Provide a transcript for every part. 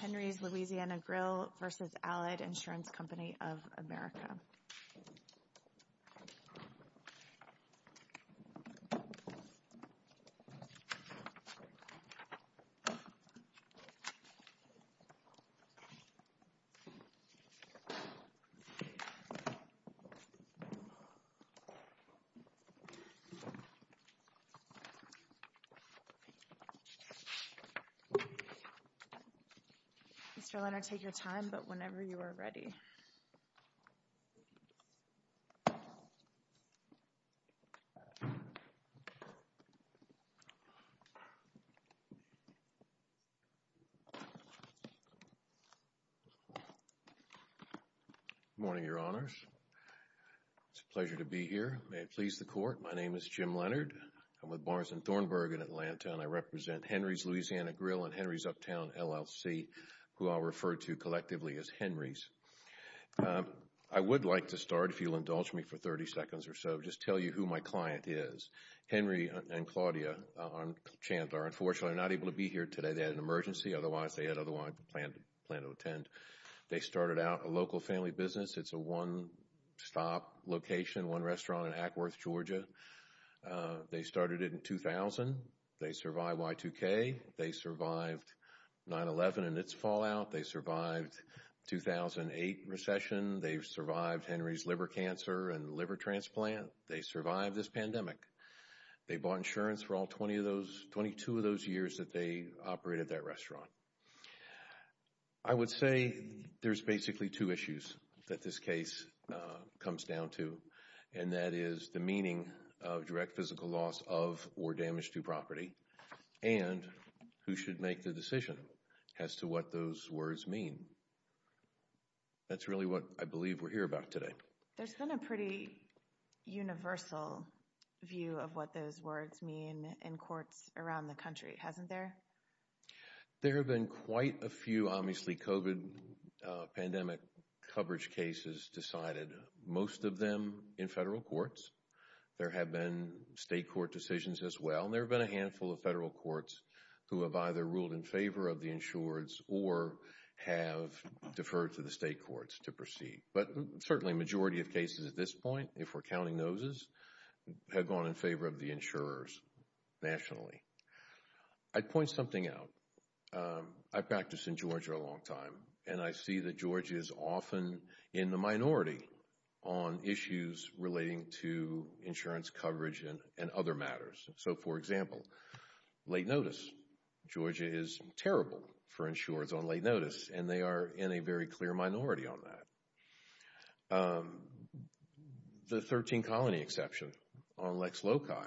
Henry's Louisiana Grill v. Allied Insurance Company of America Mr. Leonard, take your time, but whenever you are ready. Good morning, Your Honors. It's a pleasure to be here. May it please the Court, my name is Jim Leonard. I'm with Barnes and Thornburg in Atlanta, and I represent Henry's Louisiana Grill and Henry's Uptown, LLC, who I'll refer to collectively as Henry's. I would like to start, if you'll indulge me for 30 seconds or so, just tell you who my client is. Henry and Claudia Chandler, unfortunately, are not able to be here today. They had an emergency. Otherwise, they had otherwise planned to attend. They started out a local family business. It's a one-stop location, one restaurant in Ackworth, Georgia. They started it in 2000. They survived Y2K. They survived 9-11 and its fallout. They survived the 2008 recession. They survived Henry's liver cancer and liver transplant. They survived this pandemic. They bought insurance for all 22 of those years that they operated that restaurant. I would say there's basically two issues that this case comes down to, and that is the meaning of direct physical loss of or damage to property and who should make the decision as to what those words mean. That's really what I believe we're here about today. There's been a pretty universal view of what those words mean in courts around the country, hasn't there? There have been quite a few, obviously, COVID pandemic coverage cases decided, most of them in federal courts. There have been state court decisions as well. There have been a handful of federal courts who have either ruled in favor of the insurers or have deferred to the state courts to proceed. But certainly a majority of cases at this point, if we're counting those, have gone in favor of the insurers nationally. I'd point something out. I've practiced in Georgia a long time, and I see that Georgia is often in the minority on issues relating to insurance coverage and other matters. So, for example, late notice. Georgia is terrible for insurers on late notice, and they are in a very clear minority on that. The 13-colony exception on Lex Loci,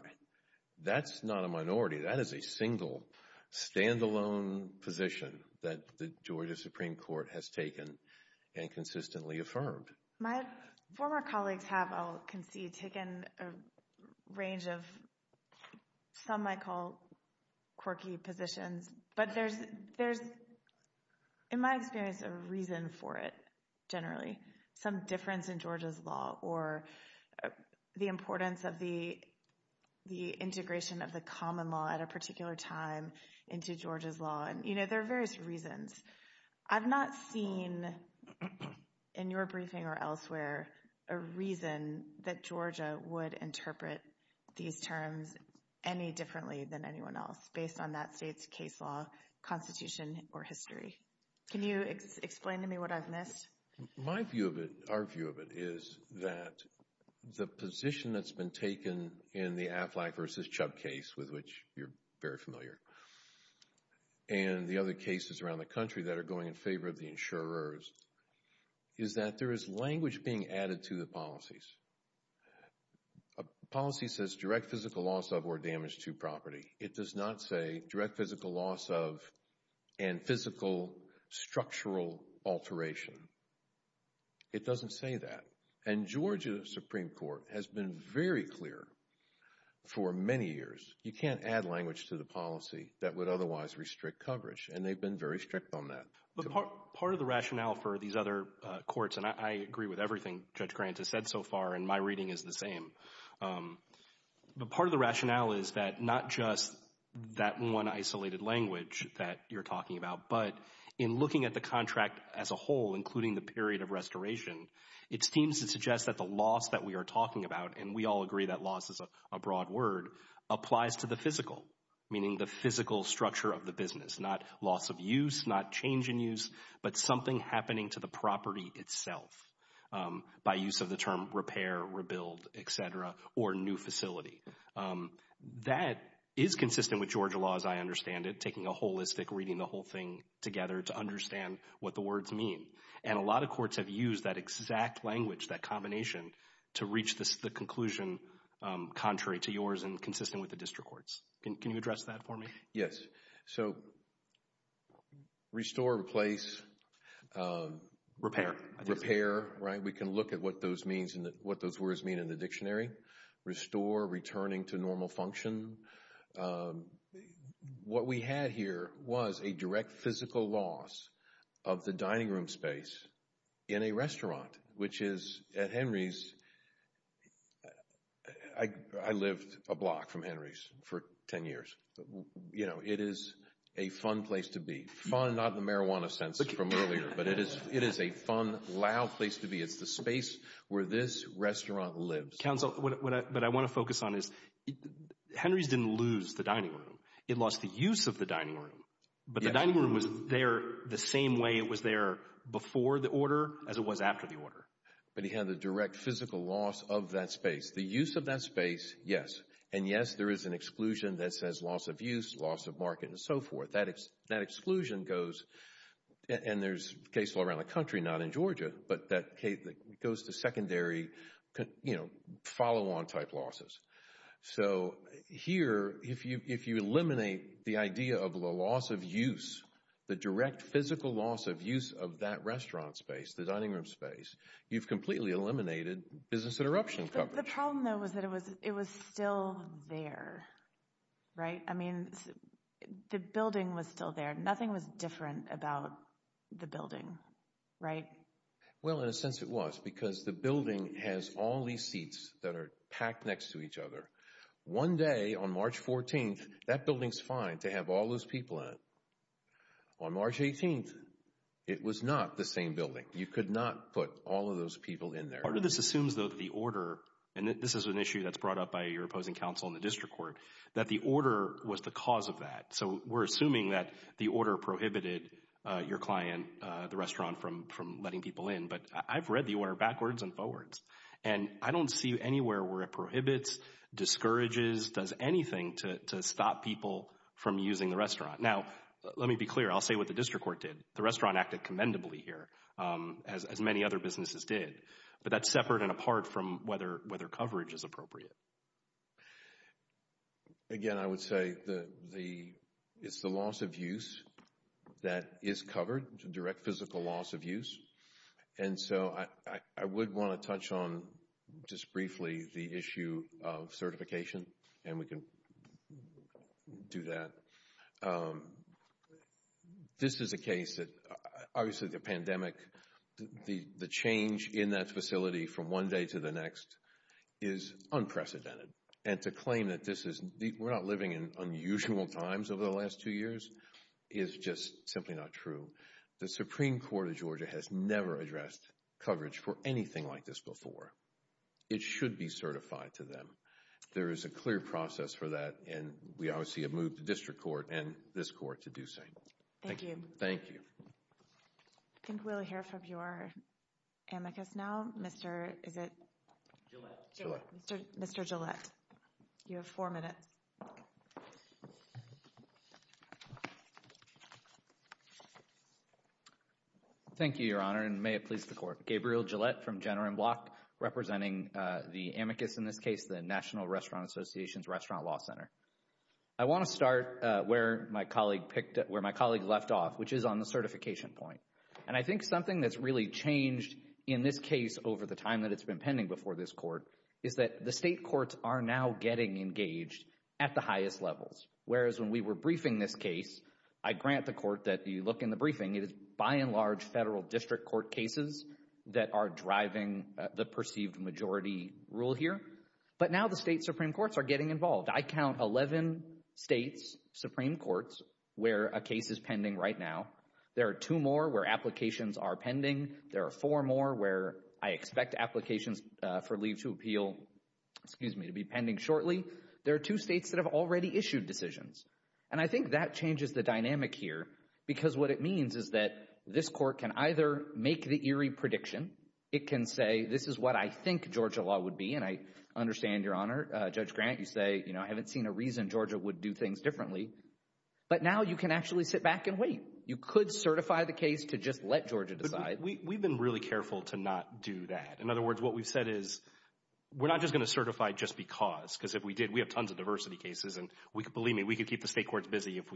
that's not a minority. That is a single, stand-alone position that the Georgia Supreme Court has taken and consistently affirmed. My former colleagues have, I'll concede, taken a range of some I call quirky positions. But there's, in my experience, a reason for it, generally. Some difference in Georgia's law or the importance of the integration of the common law at a particular time into Georgia's law. There are various reasons. I've not seen, in your briefing or elsewhere, a reason that Georgia would interpret these terms any differently than anyone else, based on that state's case law, constitution, or history. Can you explain to me what I've missed? My view of it, our view of it, is that the position that's been taken in the Affleck v. Chubb case, with which you're very familiar, and the other cases around the country that are going in favor of the insurers, is that there is language being added to the policies. A policy says direct physical loss of or damage to property. It does not say direct physical loss of and physical structural alteration. It doesn't say that. And Georgia Supreme Court has been very clear for many years, you can't add language to the policy that would otherwise restrict coverage, and they've been very strict on that. But part of the rationale for these other courts, and I agree with everything Judge Grant has said so far, and my reading is the same, but part of the rationale is that not just that one isolated language that you're talking about, but in looking at the contract as a whole, including the period of restoration, it seems to suggest that the loss that we are talking about, and we all agree that loss is a broad word, applies to the physical, meaning the physical structure of the business, not loss of use, not change in use, but something happening to the property itself by use of the term repair, rebuild, et cetera, or new facility. That is consistent with Georgia law as I understand it, taking a holistic reading the whole thing together to understand what the words mean. And a lot of courts have used that exact language, that combination, to reach the conclusion contrary to yours and consistent with the district courts. Can you address that for me? Yes. So restore, replace. Repair. Repair, right? We can look at what those words mean in the dictionary. Restore, returning to normal function. What we had here was a direct physical loss of the dining room space in a restaurant, which is at Henry's. I lived a block from Henry's for ten years. You know, it is a fun place to be. Fun, not in the marijuana sense from earlier, but it is a fun, loud place to be. It's the space where this restaurant lives. Counsel, what I want to focus on is Henry's didn't lose the dining room. It lost the use of the dining room. But the dining room was there the same way it was there before the order as it was after the order. But he had the direct physical loss of that space. The use of that space, yes. And, yes, there is an exclusion that says loss of use, loss of market, and so forth. That exclusion goes, and there's cases all around the country, not in Georgia, but that goes to secondary, you know, follow-on type losses. So here, if you eliminate the idea of the loss of use, the direct physical loss of use of that restaurant space, the dining room space, you've completely eliminated business interruption coverage. The problem, though, was that it was still there, right? I mean, the building was still there. Nothing was different about the building, right? Well, in a sense it was because the building has all these seats that are packed next to each other. One day on March 14th, that building's fine to have all those people in it. On March 18th, it was not the same building. You could not put all of those people in there. Part of this assumes, though, that the order, and this is an issue that's brought up by your opposing counsel in the district court, that the order was the cause of that. So we're assuming that the order prohibited your client, the restaurant, from letting people in. But I've read the order backwards and forwards, and I don't see anywhere where it prohibits, discourages, does anything to stop people from using the restaurant. Now, let me be clear. I'll say what the district court did. The restaurant acted commendably here, as many other businesses did. But that's separate and apart from whether coverage is appropriate. Again, I would say it's the loss of use that is covered, direct physical loss of use. And so I would want to touch on, just briefly, the issue of certification. And we can do that. This is a case that, obviously, the pandemic, the change in that facility from one day to the next is unprecedented. And to claim that we're not living in unusual times over the last two years is just simply not true. The Supreme Court of Georgia has never addressed coverage for anything like this before. It should be certified to them. There is a clear process for that, and we obviously have moved the district court and this court to do the same. Thank you. Thank you. I think we'll hear from your amicus now. Mr. Is it? Gillette. Mr. Gillette. You have four minutes. Thank you, Your Honor, and may it please the court. Gabriel Gillette from Jenner and Block, representing the amicus in this case, the National Restaurant Association's Restaurant Law Center. I want to start where my colleague left off, which is on the certification point. And I think something that's really changed in this case over the time that it's been pending before this court is that the state courts are now getting engaged at the highest levels. Whereas when we were briefing this case, I grant the court that you look in the briefing, it is by and large federal district court cases that are driving the perceived majority rule here. But now the state Supreme Courts are getting involved. I count 11 states' Supreme Courts where a case is pending right now. There are two more where applications are pending. There are four more where I expect applications for leave to appeal to be pending shortly. There are two states that have already issued decisions. And I think that changes the dynamic here because what it means is that this court can either make the eerie prediction. It can say this is what I think Georgia law would be. And I understand, Your Honor, Judge Grant, you say, you know, I haven't seen a reason Georgia would do things differently. But now you can actually sit back and wait. You could certify the case to just let Georgia decide. We've been really careful to not do that. In other words, what we've said is we're not just going to certify just because. Because if we did, we have tons of diversity cases. And believe me, we could keep the state courts busy if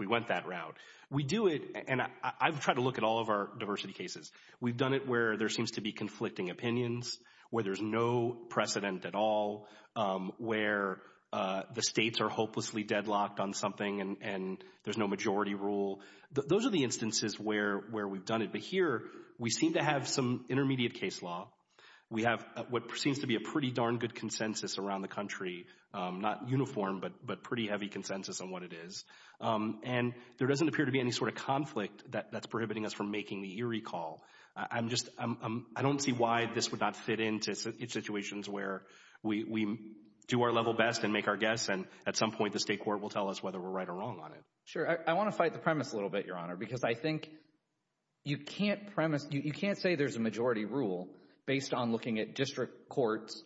we went that route. We do it, and I've tried to look at all of our diversity cases. We've done it where there seems to be conflicting opinions, where there's no precedent at all, where the states are hopelessly deadlocked on something and there's no majority rule. Those are the instances where we've done it. But here, we seem to have some intermediate case law. We have what seems to be a pretty darn good consensus around the country. Not uniform, but pretty heavy consensus on what it is. And there doesn't appear to be any sort of conflict that's prohibiting us from making the eerie call. I don't see why this would not fit into situations where we do our level best and make our guess, and at some point the state court will tell us whether we're right or wrong on it. Sure. I want to fight the premise a little bit, Your Honor, because I think you can't premise, you can't say there's a majority rule based on looking at district courts,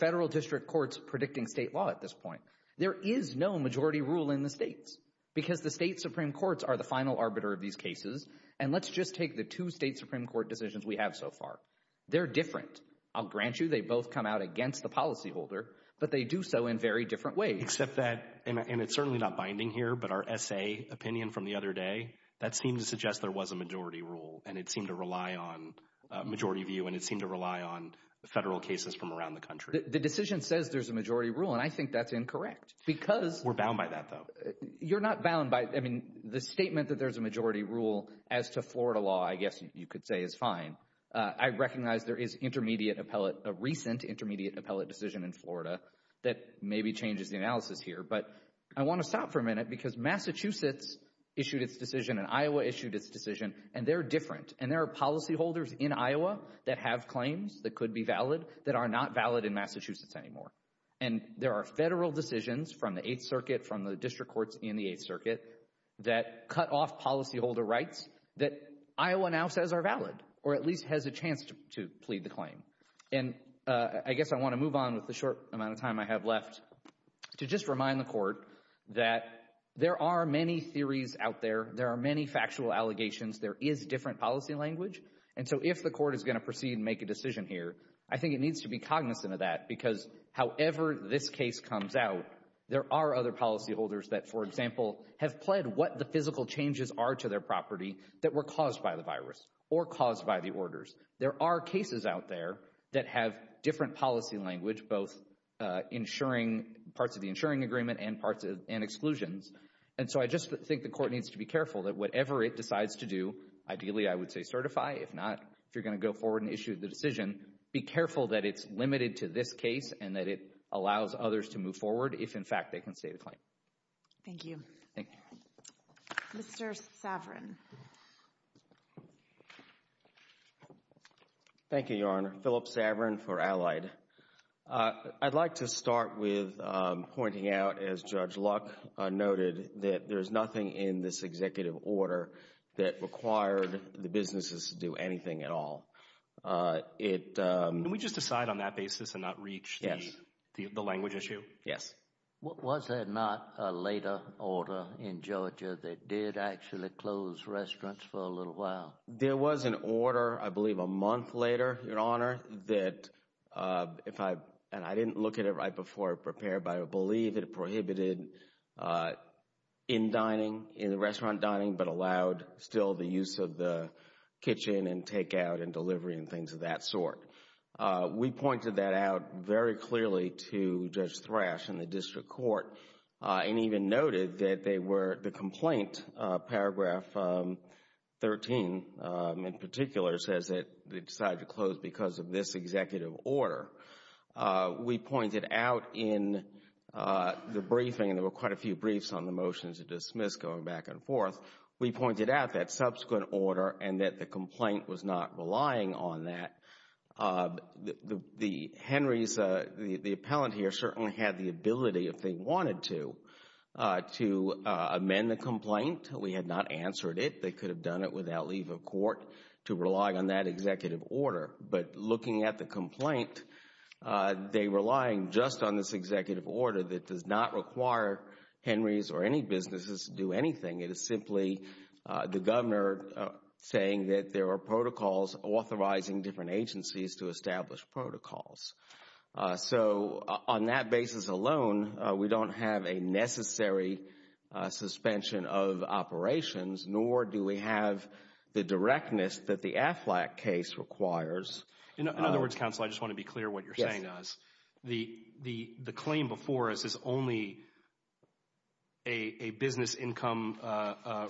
federal district courts predicting state law at this point. There is no majority rule in the states because the state supreme courts are the final arbiter of these cases. And let's just take the two state supreme court decisions we have so far. They're different. I'll grant you they both come out against the policyholder, but they do so in very different ways. Except that, and it's certainly not binding here, but our S.A. opinion from the other day, that seemed to suggest there was a majority rule, and it seemed to rely on majority view, and it seemed to rely on federal cases from around the country. The decision says there's a majority rule, and I think that's incorrect because— We're bound by that, though. You're not bound by—I mean, the statement that there's a majority rule as to Florida law, I guess you could say, is fine. I recognize there is intermediate appellate, a recent intermediate appellate decision in Florida that maybe changes the analysis here, but I want to stop for a minute because Massachusetts issued its decision and Iowa issued its decision, and they're different. And there are policyholders in Iowa that have claims that could be valid that are not valid in Massachusetts anymore. And there are federal decisions from the Eighth Circuit, from the district courts in the Eighth Circuit, that cut off policyholder rights that Iowa now says are valid, or at least has a chance to plead the claim. And I guess I want to move on with the short amount of time I have left to just remind the Court that there are many theories out there. There are many factual allegations. There is different policy language. And so if the Court is going to proceed and make a decision here, I think it needs to be cognizant of that because however this case comes out, there are other policyholders that, for example, have pled what the physical changes are to their property that were caused by the virus or caused by the orders. There are cases out there that have different policy language, both parts of the insuring agreement and exclusions. And so I just think the Court needs to be careful that whatever it decides to do, ideally I would say certify. If not, if you're going to go forward and issue the decision, be careful that it's limited to this case and that it allows others to move forward if, in fact, they can state a claim. Thank you. Thank you. Mr. Saverin. Thank you, Your Honor. Philip Saverin for Allied. I'd like to start with pointing out, as Judge Luck noted, that there's nothing in this executive order that required the businesses to do anything at all. Can we just decide on that basis and not reach the language issue? Yes. Was there not a later order in Georgia that did actually close restaurants for a little while? There was an order, I believe a month later, Your Honor, that if I – and I didn't look at it right before it prepared, but I believe it prohibited in-dining, in-restaurant dining, but allowed still the use of the kitchen and takeout and delivery and things of that sort. We pointed that out very clearly to Judge Thrash in the district court and even noted that they were – the complaint, paragraph 13 in particular, says that they decided to close because of this executive order. We pointed out in the briefing, and there were quite a few briefs on the motion to dismiss going back and forth, we pointed out that subsequent order and that the complaint was not relying on that. The Henrys, the appellant here, certainly had the ability, if they wanted to, to amend the complaint. We had not answered it. They could have done it without leave of court to rely on that executive order. But looking at the complaint, they were relying just on this executive order that does not require Henrys or any businesses to do anything. It is simply the governor saying that there are protocols authorizing different agencies to establish protocols. So on that basis alone, we don't have a necessary suspension of operations, nor do we have the directness that the Aflac case requires. In other words, counsel, I just want to be clear what you're saying. The claim before us is only a business income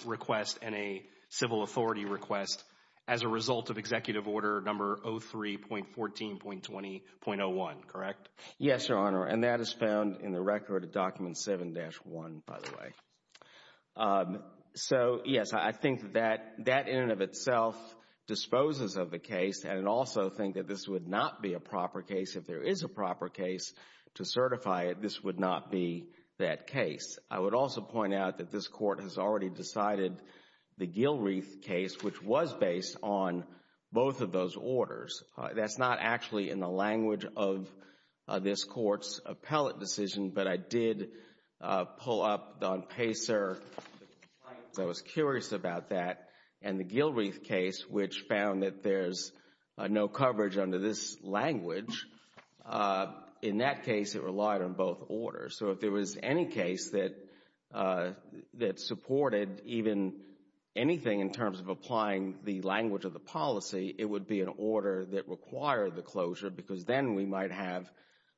request and a civil authority request as a result of executive order number 03.14.20.01, correct? Yes, Your Honor, and that is found in the record of document 7-1, by the way. So, yes, I think that that in and of itself disposes of the case, and I also think that this would not be a proper case. If there is a proper case to certify it, this would not be that case. I would also point out that this Court has already decided the Gilreath case, which was based on both of those orders. That's not actually in the language of this Court's appellate decision, but I did pull up on PACER the complaint, because I was curious about that, and the Gilreath case, which found that there's no coverage under this language. In that case, it relied on both orders. So if there was any case that supported even anything in terms of applying the language of the policy, it would be an order that required the closure, because then we might have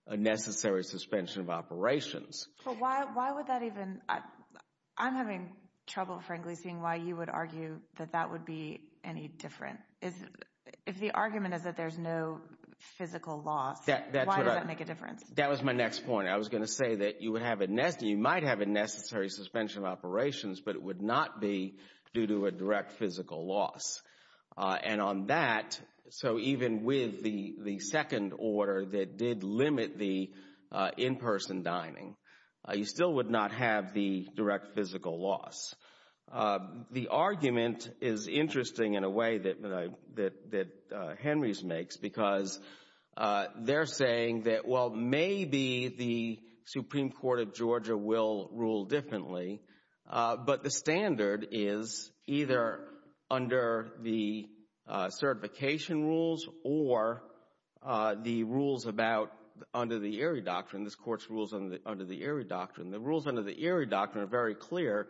a necessary suspension of operations. Well, why would that even – I'm having trouble, frankly, seeing why you would argue that that would be any different. If the argument is that there's no physical loss, why does that make a difference? That was my next point. I was going to say that you might have a necessary suspension of operations, but it would not be due to a direct physical loss. And on that, so even with the second order that did limit the in-person dining, you still would not have the direct physical loss. The argument is interesting in a way that Henry's makes, because they're saying that, well, maybe the Supreme Court of Georgia will rule differently, but the standard is either under the certification rules or the rules about – under the Erie Doctrine, this Court's rules under the Erie Doctrine. The rules under the Erie Doctrine are very clear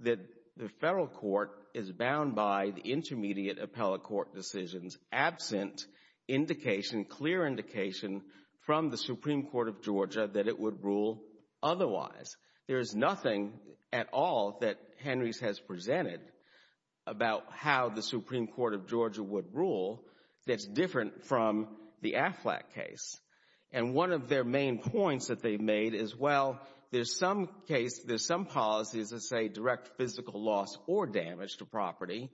that the federal court is bound by the intermediate appellate court decisions absent indication, clear indication, from the Supreme Court of Georgia that it would rule otherwise. There is nothing at all that Henry's has presented about how the Supreme Court of Georgia would rule that's different from the Affleck case. And one of their main points that they've made is, well, there's some case, there's some policies that say direct physical loss or damage to property,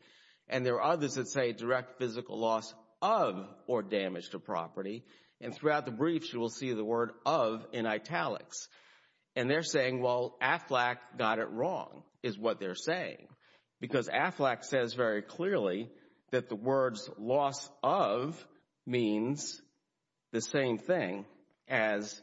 and there are others that say direct physical loss of or damage to property. And throughout the briefs, you will see the word of in italics. And they're saying, well, Affleck got it wrong is what they're saying, because Affleck says very clearly that the words loss of means the same thing as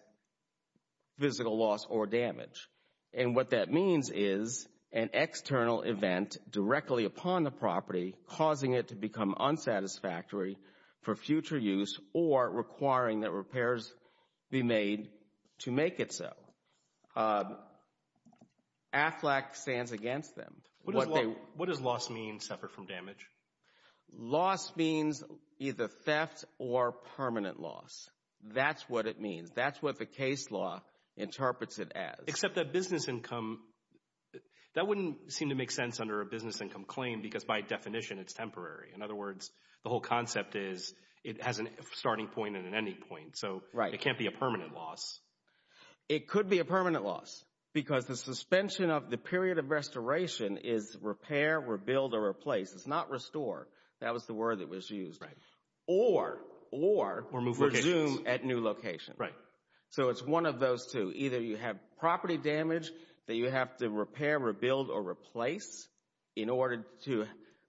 physical loss or damage. And what that means is an external event directly upon the property causing it to become unsatisfactory for future use or requiring that repairs be made to make it so. Affleck stands against them. What does loss mean separate from damage? Loss means either theft or permanent loss. That's what it means. That's what the case law interprets it as. Except that business income, that wouldn't seem to make sense under a business income claim, because by definition it's temporary. In other words, the whole concept is it has a starting point and an ending point. Right. So it can't be a permanent loss. It could be a permanent loss because the suspension of the period of restoration is repair, rebuild, or replace. It's not restore. That was the word that was used. Right. Or resume at new location. Right. So it's one of those two. Either you have property damage that you have to repair, rebuild, or replace in order to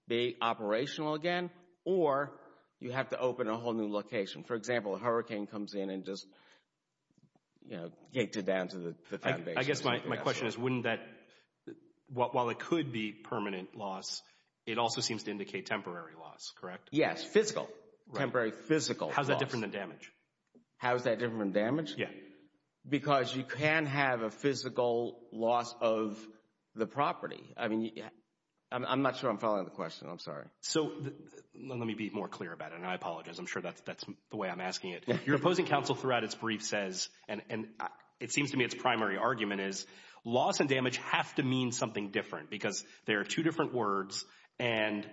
be operational again, or you have to open a whole new location. For example, a hurricane comes in and just gets it down to the foundation. I guess my question is wouldn't that, while it could be permanent loss, it also seems to indicate temporary loss, correct? Yes, physical. Temporary physical loss. How is that different than damage? How is that different than damage? Yeah. Because you can have a physical loss of the property. I mean, I'm not sure I'm following the question. I'm sorry. So let me be more clear about it, and I apologize. I'm sure that's the way I'm asking it. Your opposing counsel throughout its brief says, and it seems to me its primary argument is, loss and damage have to mean something different because they are two different words, and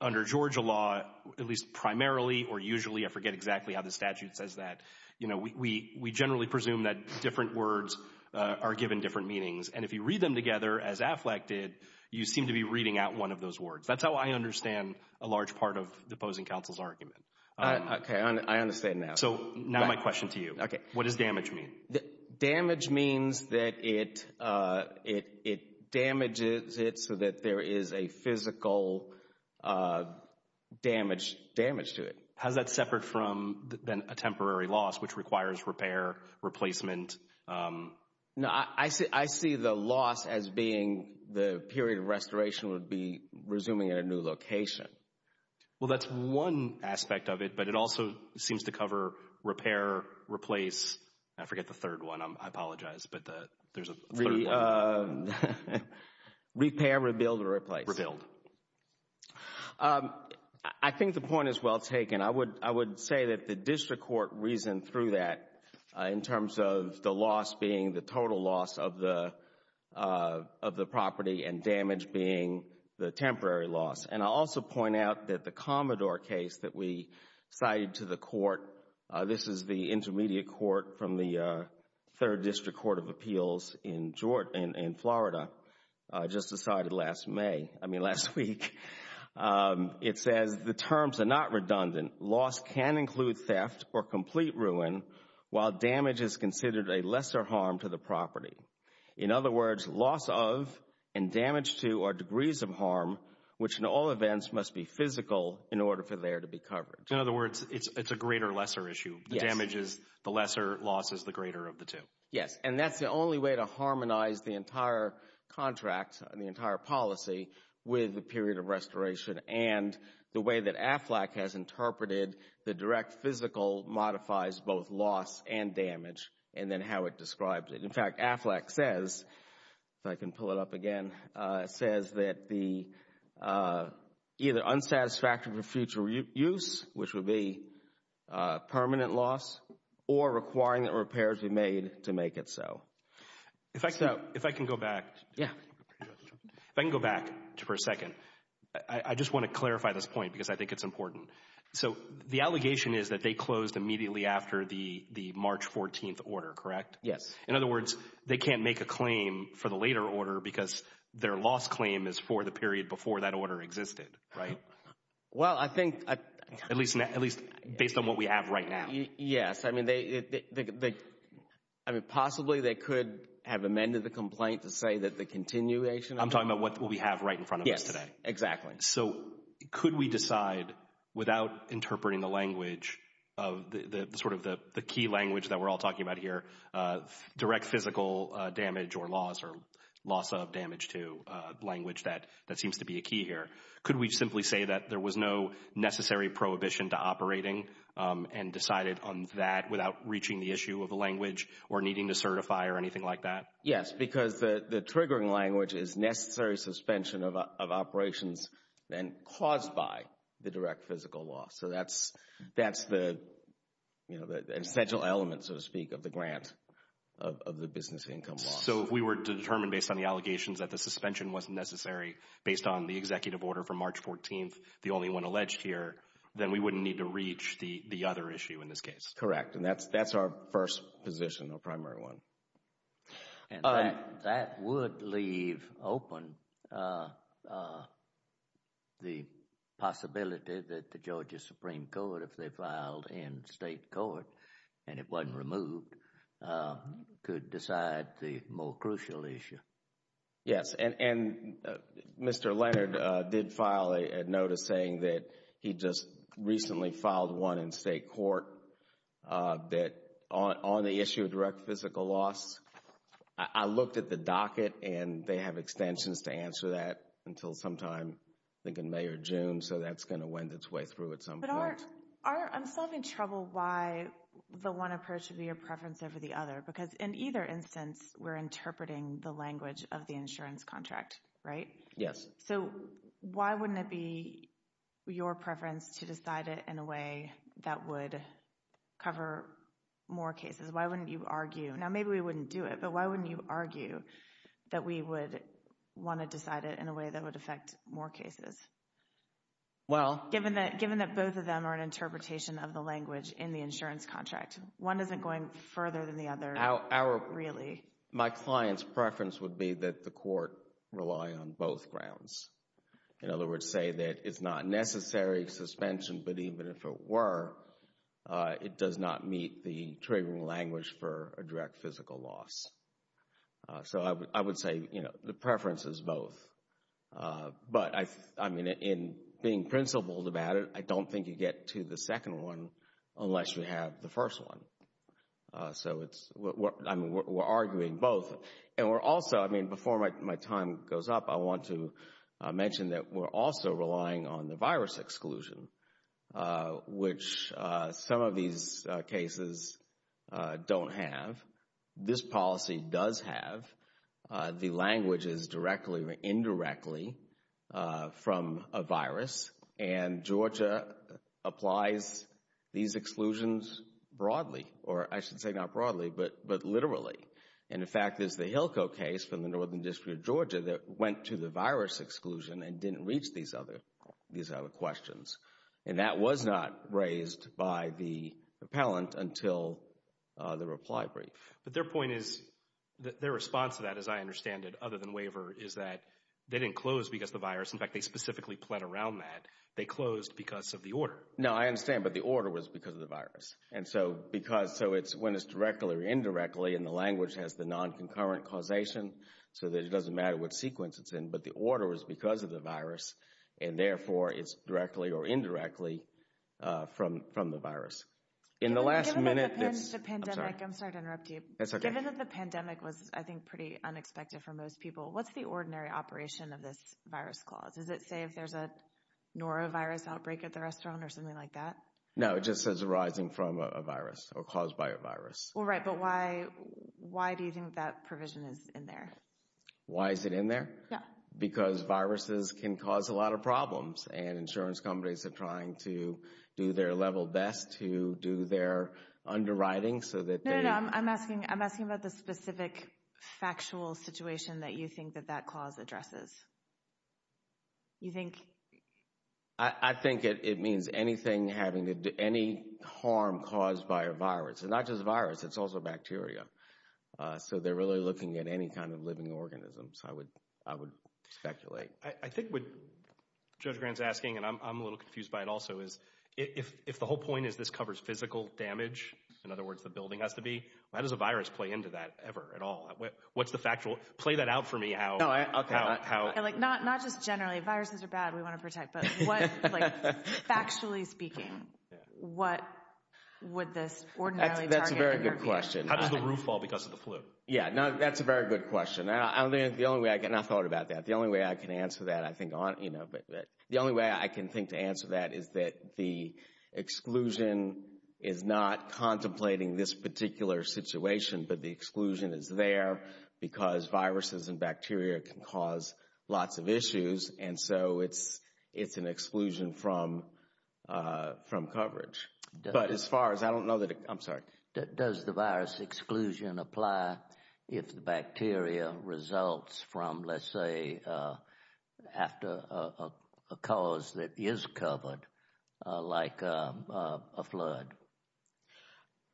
under Georgia law, at least primarily or usually, I forget exactly how the statute says that, but we generally presume that different words are given different meanings, and if you read them together as AFLAC did, you seem to be reading out one of those words. That's how I understand a large part of the opposing counsel's argument. Okay. I understand now. So now my question to you. Okay. What does damage mean? Damage means that it damages it so that there is a physical damage to it. How is that separate from a temporary loss, which requires repair, replacement? No, I see the loss as being the period of restoration would be resuming at a new location. Well, that's one aspect of it, but it also seems to cover repair, replace. I forget the third one. I apologize, but there's a third one. Repair, rebuild, or replace? Rebuild. Rebuild. I think the point is well taken. I would say that the district court reasoned through that in terms of the loss being the total loss of the property and damage being the temporary loss. And I'll also point out that the Commodore case that we cited to the court, this is the intermediate court from the Third District Court of Appeals in Florida, just decided last May, I mean last week. It says the terms are not redundant. Loss can include theft or complete ruin while damage is considered a lesser harm to the property. In other words, loss of and damage to are degrees of harm, which in all events must be physical in order for there to be covered. In other words, it's a greater lesser issue. The damage is the lesser, loss is the greater of the two. Yes. And that's the only way to harmonize the entire contract and the entire policy with the period of restoration and the way that AFLAC has interpreted the direct physical modifies both loss and damage and then how it describes it. In fact, AFLAC says, if I can pull it up again, says that the either unsatisfactory for future use, which would be permanent loss, or requiring that repairs be made to make it so. If I can go back. Yeah. If I can go back for a second. I just want to clarify this point because I think it's important. So the allegation is that they closed immediately after the March 14th order, correct? Yes. In other words, they can't make a claim for the later order because their loss claim is for the period before that order existed, right? Well, I think. At least based on what we have right now. Yes. I mean, possibly they could have amended the complaint to say that the continuation. I'm talking about what we have right in front of us today. Yes, exactly. So could we decide without interpreting the language, sort of the key language that we're all talking about here, direct physical damage or loss or loss of damage to language that seems to be a key here. Could we simply say that there was no necessary prohibition to operating and decided on that without reaching the issue of the language or needing to certify or anything like that? Yes, because the triggering language is necessary suspension of operations and caused by the direct physical loss. So that's the essential element, so to speak, of the grant of the business income loss. So if we were to determine based on the allegations that the suspension wasn't necessary based on the executive order from March 14th, the only one alleged here, then we wouldn't need to reach the other issue in this case. Correct, and that's our first position, our primary one. And that would leave open the possibility that the Georgia Supreme Court, if they filed in state court and it wasn't removed, could decide the more crucial issue. Yes, and Mr. Leonard did file a notice saying that he just recently filed one in state court that on the issue of direct physical loss, I looked at the docket and they have extensions to answer that until sometime, I think in May or June, so that's going to wind its way through at some point. But I'm still having trouble why the one approach should be a preference over the other because in either instance, we're interpreting the language of the insurance contract, right? Yes. So why wouldn't it be your preference to decide it in a way that would cover more cases? Why wouldn't you argue, now maybe we wouldn't do it, but why wouldn't you argue that we would want to decide it in a way that would affect more cases? Well. Given that both of them are an interpretation of the language in the insurance contract, one isn't going further than the other, really. My client's preference would be that the court rely on both grounds. In other words, say that it's not necessary suspension, but even if it were, it does not meet the triggering language for a direct physical loss. So I would say the preference is both. But, I mean, in being principled about it, I don't think you get to the second one unless you have the first one. So it's, I mean, we're arguing both. And we're also, I mean, before my time goes up, I want to mention that we're also relying on the virus exclusion, which some of these cases don't have. This policy does have. The language is directly or indirectly from a virus. And Georgia applies these exclusions broadly, or I should say not broadly, but literally. And, in fact, there's the Hilco case from the Northern District of Georgia that went to the virus exclusion and didn't reach these other questions. And that was not raised by the appellant until the reply brief. But their point is, their response to that, as I understand it, other than waiver, is that they didn't close because of the virus. In fact, they specifically plead around that. They closed because of the order. No, I understand, but the order was because of the virus. And so because, so it's when it's directly or indirectly, and the language has the non-concurrent causation, so that it doesn't matter what sequence it's in. But the order was because of the virus. And, therefore, it's directly or indirectly from the virus. Given that the pandemic was, I think, pretty unexpected for most people, what's the ordinary operation of this virus clause? Does it say if there's a norovirus outbreak at the restaurant or something like that? No, it just says arising from a virus or caused by a virus. Right, but why do you think that provision is in there? Why is it in there? Because viruses can cause a lot of problems, and insurance companies are trying to do their level best to do their underwriting so that they— Why do you think that that clause addresses? You think? I think it means anything having to do—any harm caused by a virus. And not just a virus, it's also bacteria. So they're really looking at any kind of living organisms, I would speculate. I think what Judge Grant's asking, and I'm a little confused by it also, is if the whole point is this covers physical damage, in other words, the building has to be, how does a virus play into that ever at all? What's the factual—play that out for me, how— Not just generally, viruses are bad, we want to protect, but what, like, factually speaking, what would this ordinarily targeting— That's a very good question. How does the roof fall because of the flu? Yeah, that's a very good question. The only way I can—I've thought about that. The only way I can answer that, I think—the only way I can think to answer that is that the exclusion is not contemplating this particular situation, but the exclusion is there because viruses and bacteria can cause lots of issues, and so it's an exclusion from coverage. But as far as—I don't know that it—I'm sorry. Does the virus exclusion apply if the bacteria results from, let's say, after a cause that is covered, like a flood?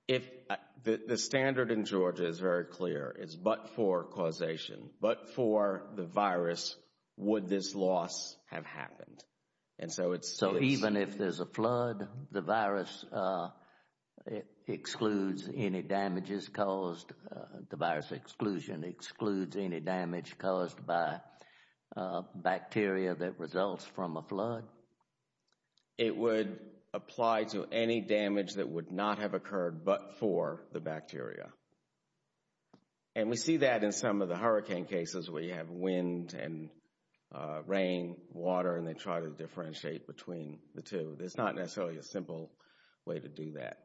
If—the standard in Georgia is very clear. It's but for causation. But for the virus, would this loss have happened? And so it's— So even if there's a flood, the virus excludes any damages caused— the virus exclusion excludes any damage caused by bacteria that results from a flood? It would apply to any damage that would not have occurred but for the bacteria. And we see that in some of the hurricane cases where you have wind and rain, water, and they try to differentiate between the two. There's not necessarily a simple way to do that.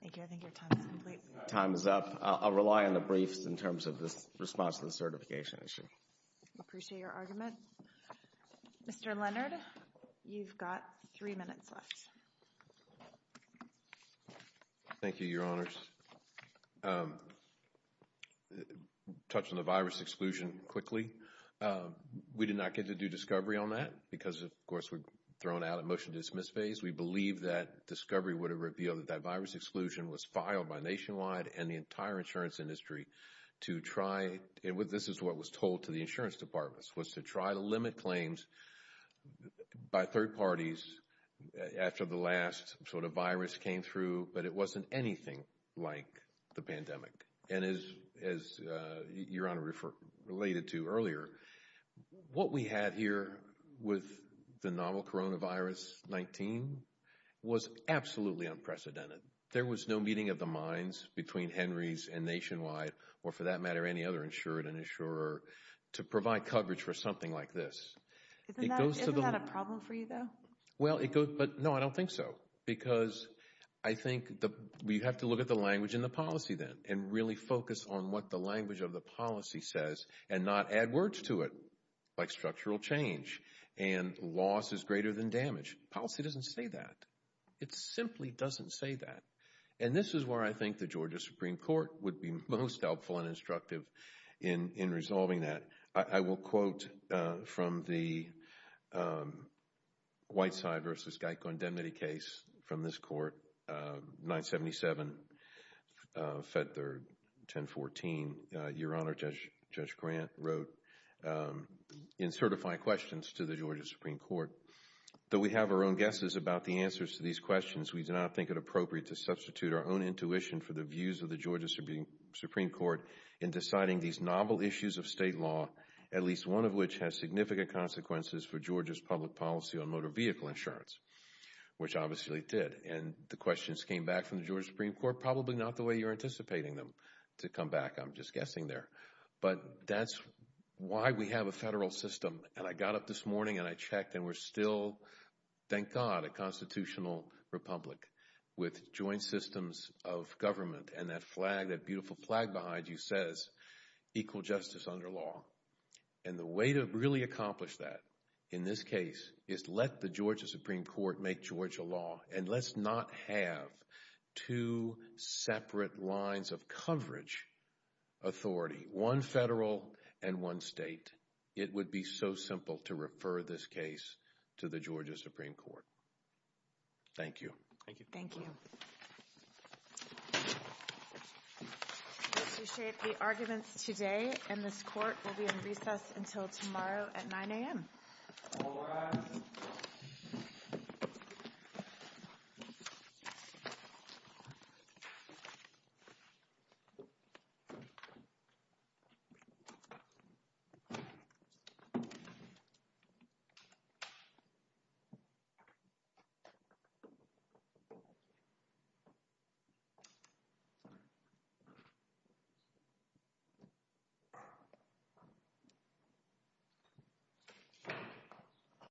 Thank you. I think your time is up. Time is up. I'll rely on the briefs in terms of this response to the certification issue. I appreciate your argument. Mr. Leonard, you've got three minutes left. Thank you, Your Honors. Touching the virus exclusion quickly, we did not get to do discovery on that because, of course, we're thrown out of the motion-to-dismiss phase. We believe that discovery would have revealed that that virus exclusion was filed by Nationwide and the entire insurance industry to try— this is what was told to the insurance departments— was to try to limit claims by third parties after the last sort of virus came through, but it wasn't anything like the pandemic. And as Your Honor related to earlier, what we had here with the novel coronavirus-19 was absolutely unprecedented. There was no meeting of the minds between Henry's and Nationwide or, for that matter, any other insured and insurer to provide coverage for something like this. Isn't that a problem for you, though? No, I don't think so. Because I think you have to look at the language in the policy then and really focus on what the language of the policy says and not add words to it like structural change and loss is greater than damage. Policy doesn't say that. It simply doesn't say that. And this is where I think the Georgia Supreme Court would be most helpful and instructive in resolving that. I will quote from the Whiteside v. Geicondemnity case from this court, 977, Feb. 3, 1014. Your Honor, Judge Grant wrote, in certifying questions to the Georgia Supreme Court, though we have our own guesses about the answers to these questions, we do not think it appropriate to substitute our own intuition for the views of the Georgia Supreme Court in deciding these novel issues of state law, at least one of which has significant consequences for Georgia's public policy on motor vehicle insurance, which obviously it did. And the questions came back from the Georgia Supreme Court, probably not the way you're anticipating them to come back, I'm just guessing there. But that's why we have a federal system. And I got up this morning and I checked and we're still, thank God, a constitutional republic with joint systems of government and that flag, that beautiful flag behind you says equal justice under law. And the way to really accomplish that in this case is let the Georgia Supreme Court make Georgia law and let's not have two separate lines of coverage authority, one federal and one state. It would be so simple to refer this case to the Georgia Supreme Court. Thank you. Thank you. Thank you. We appreciate the arguments today and this court will be in recess until tomorrow at 9 a.m. All rise. Thank you.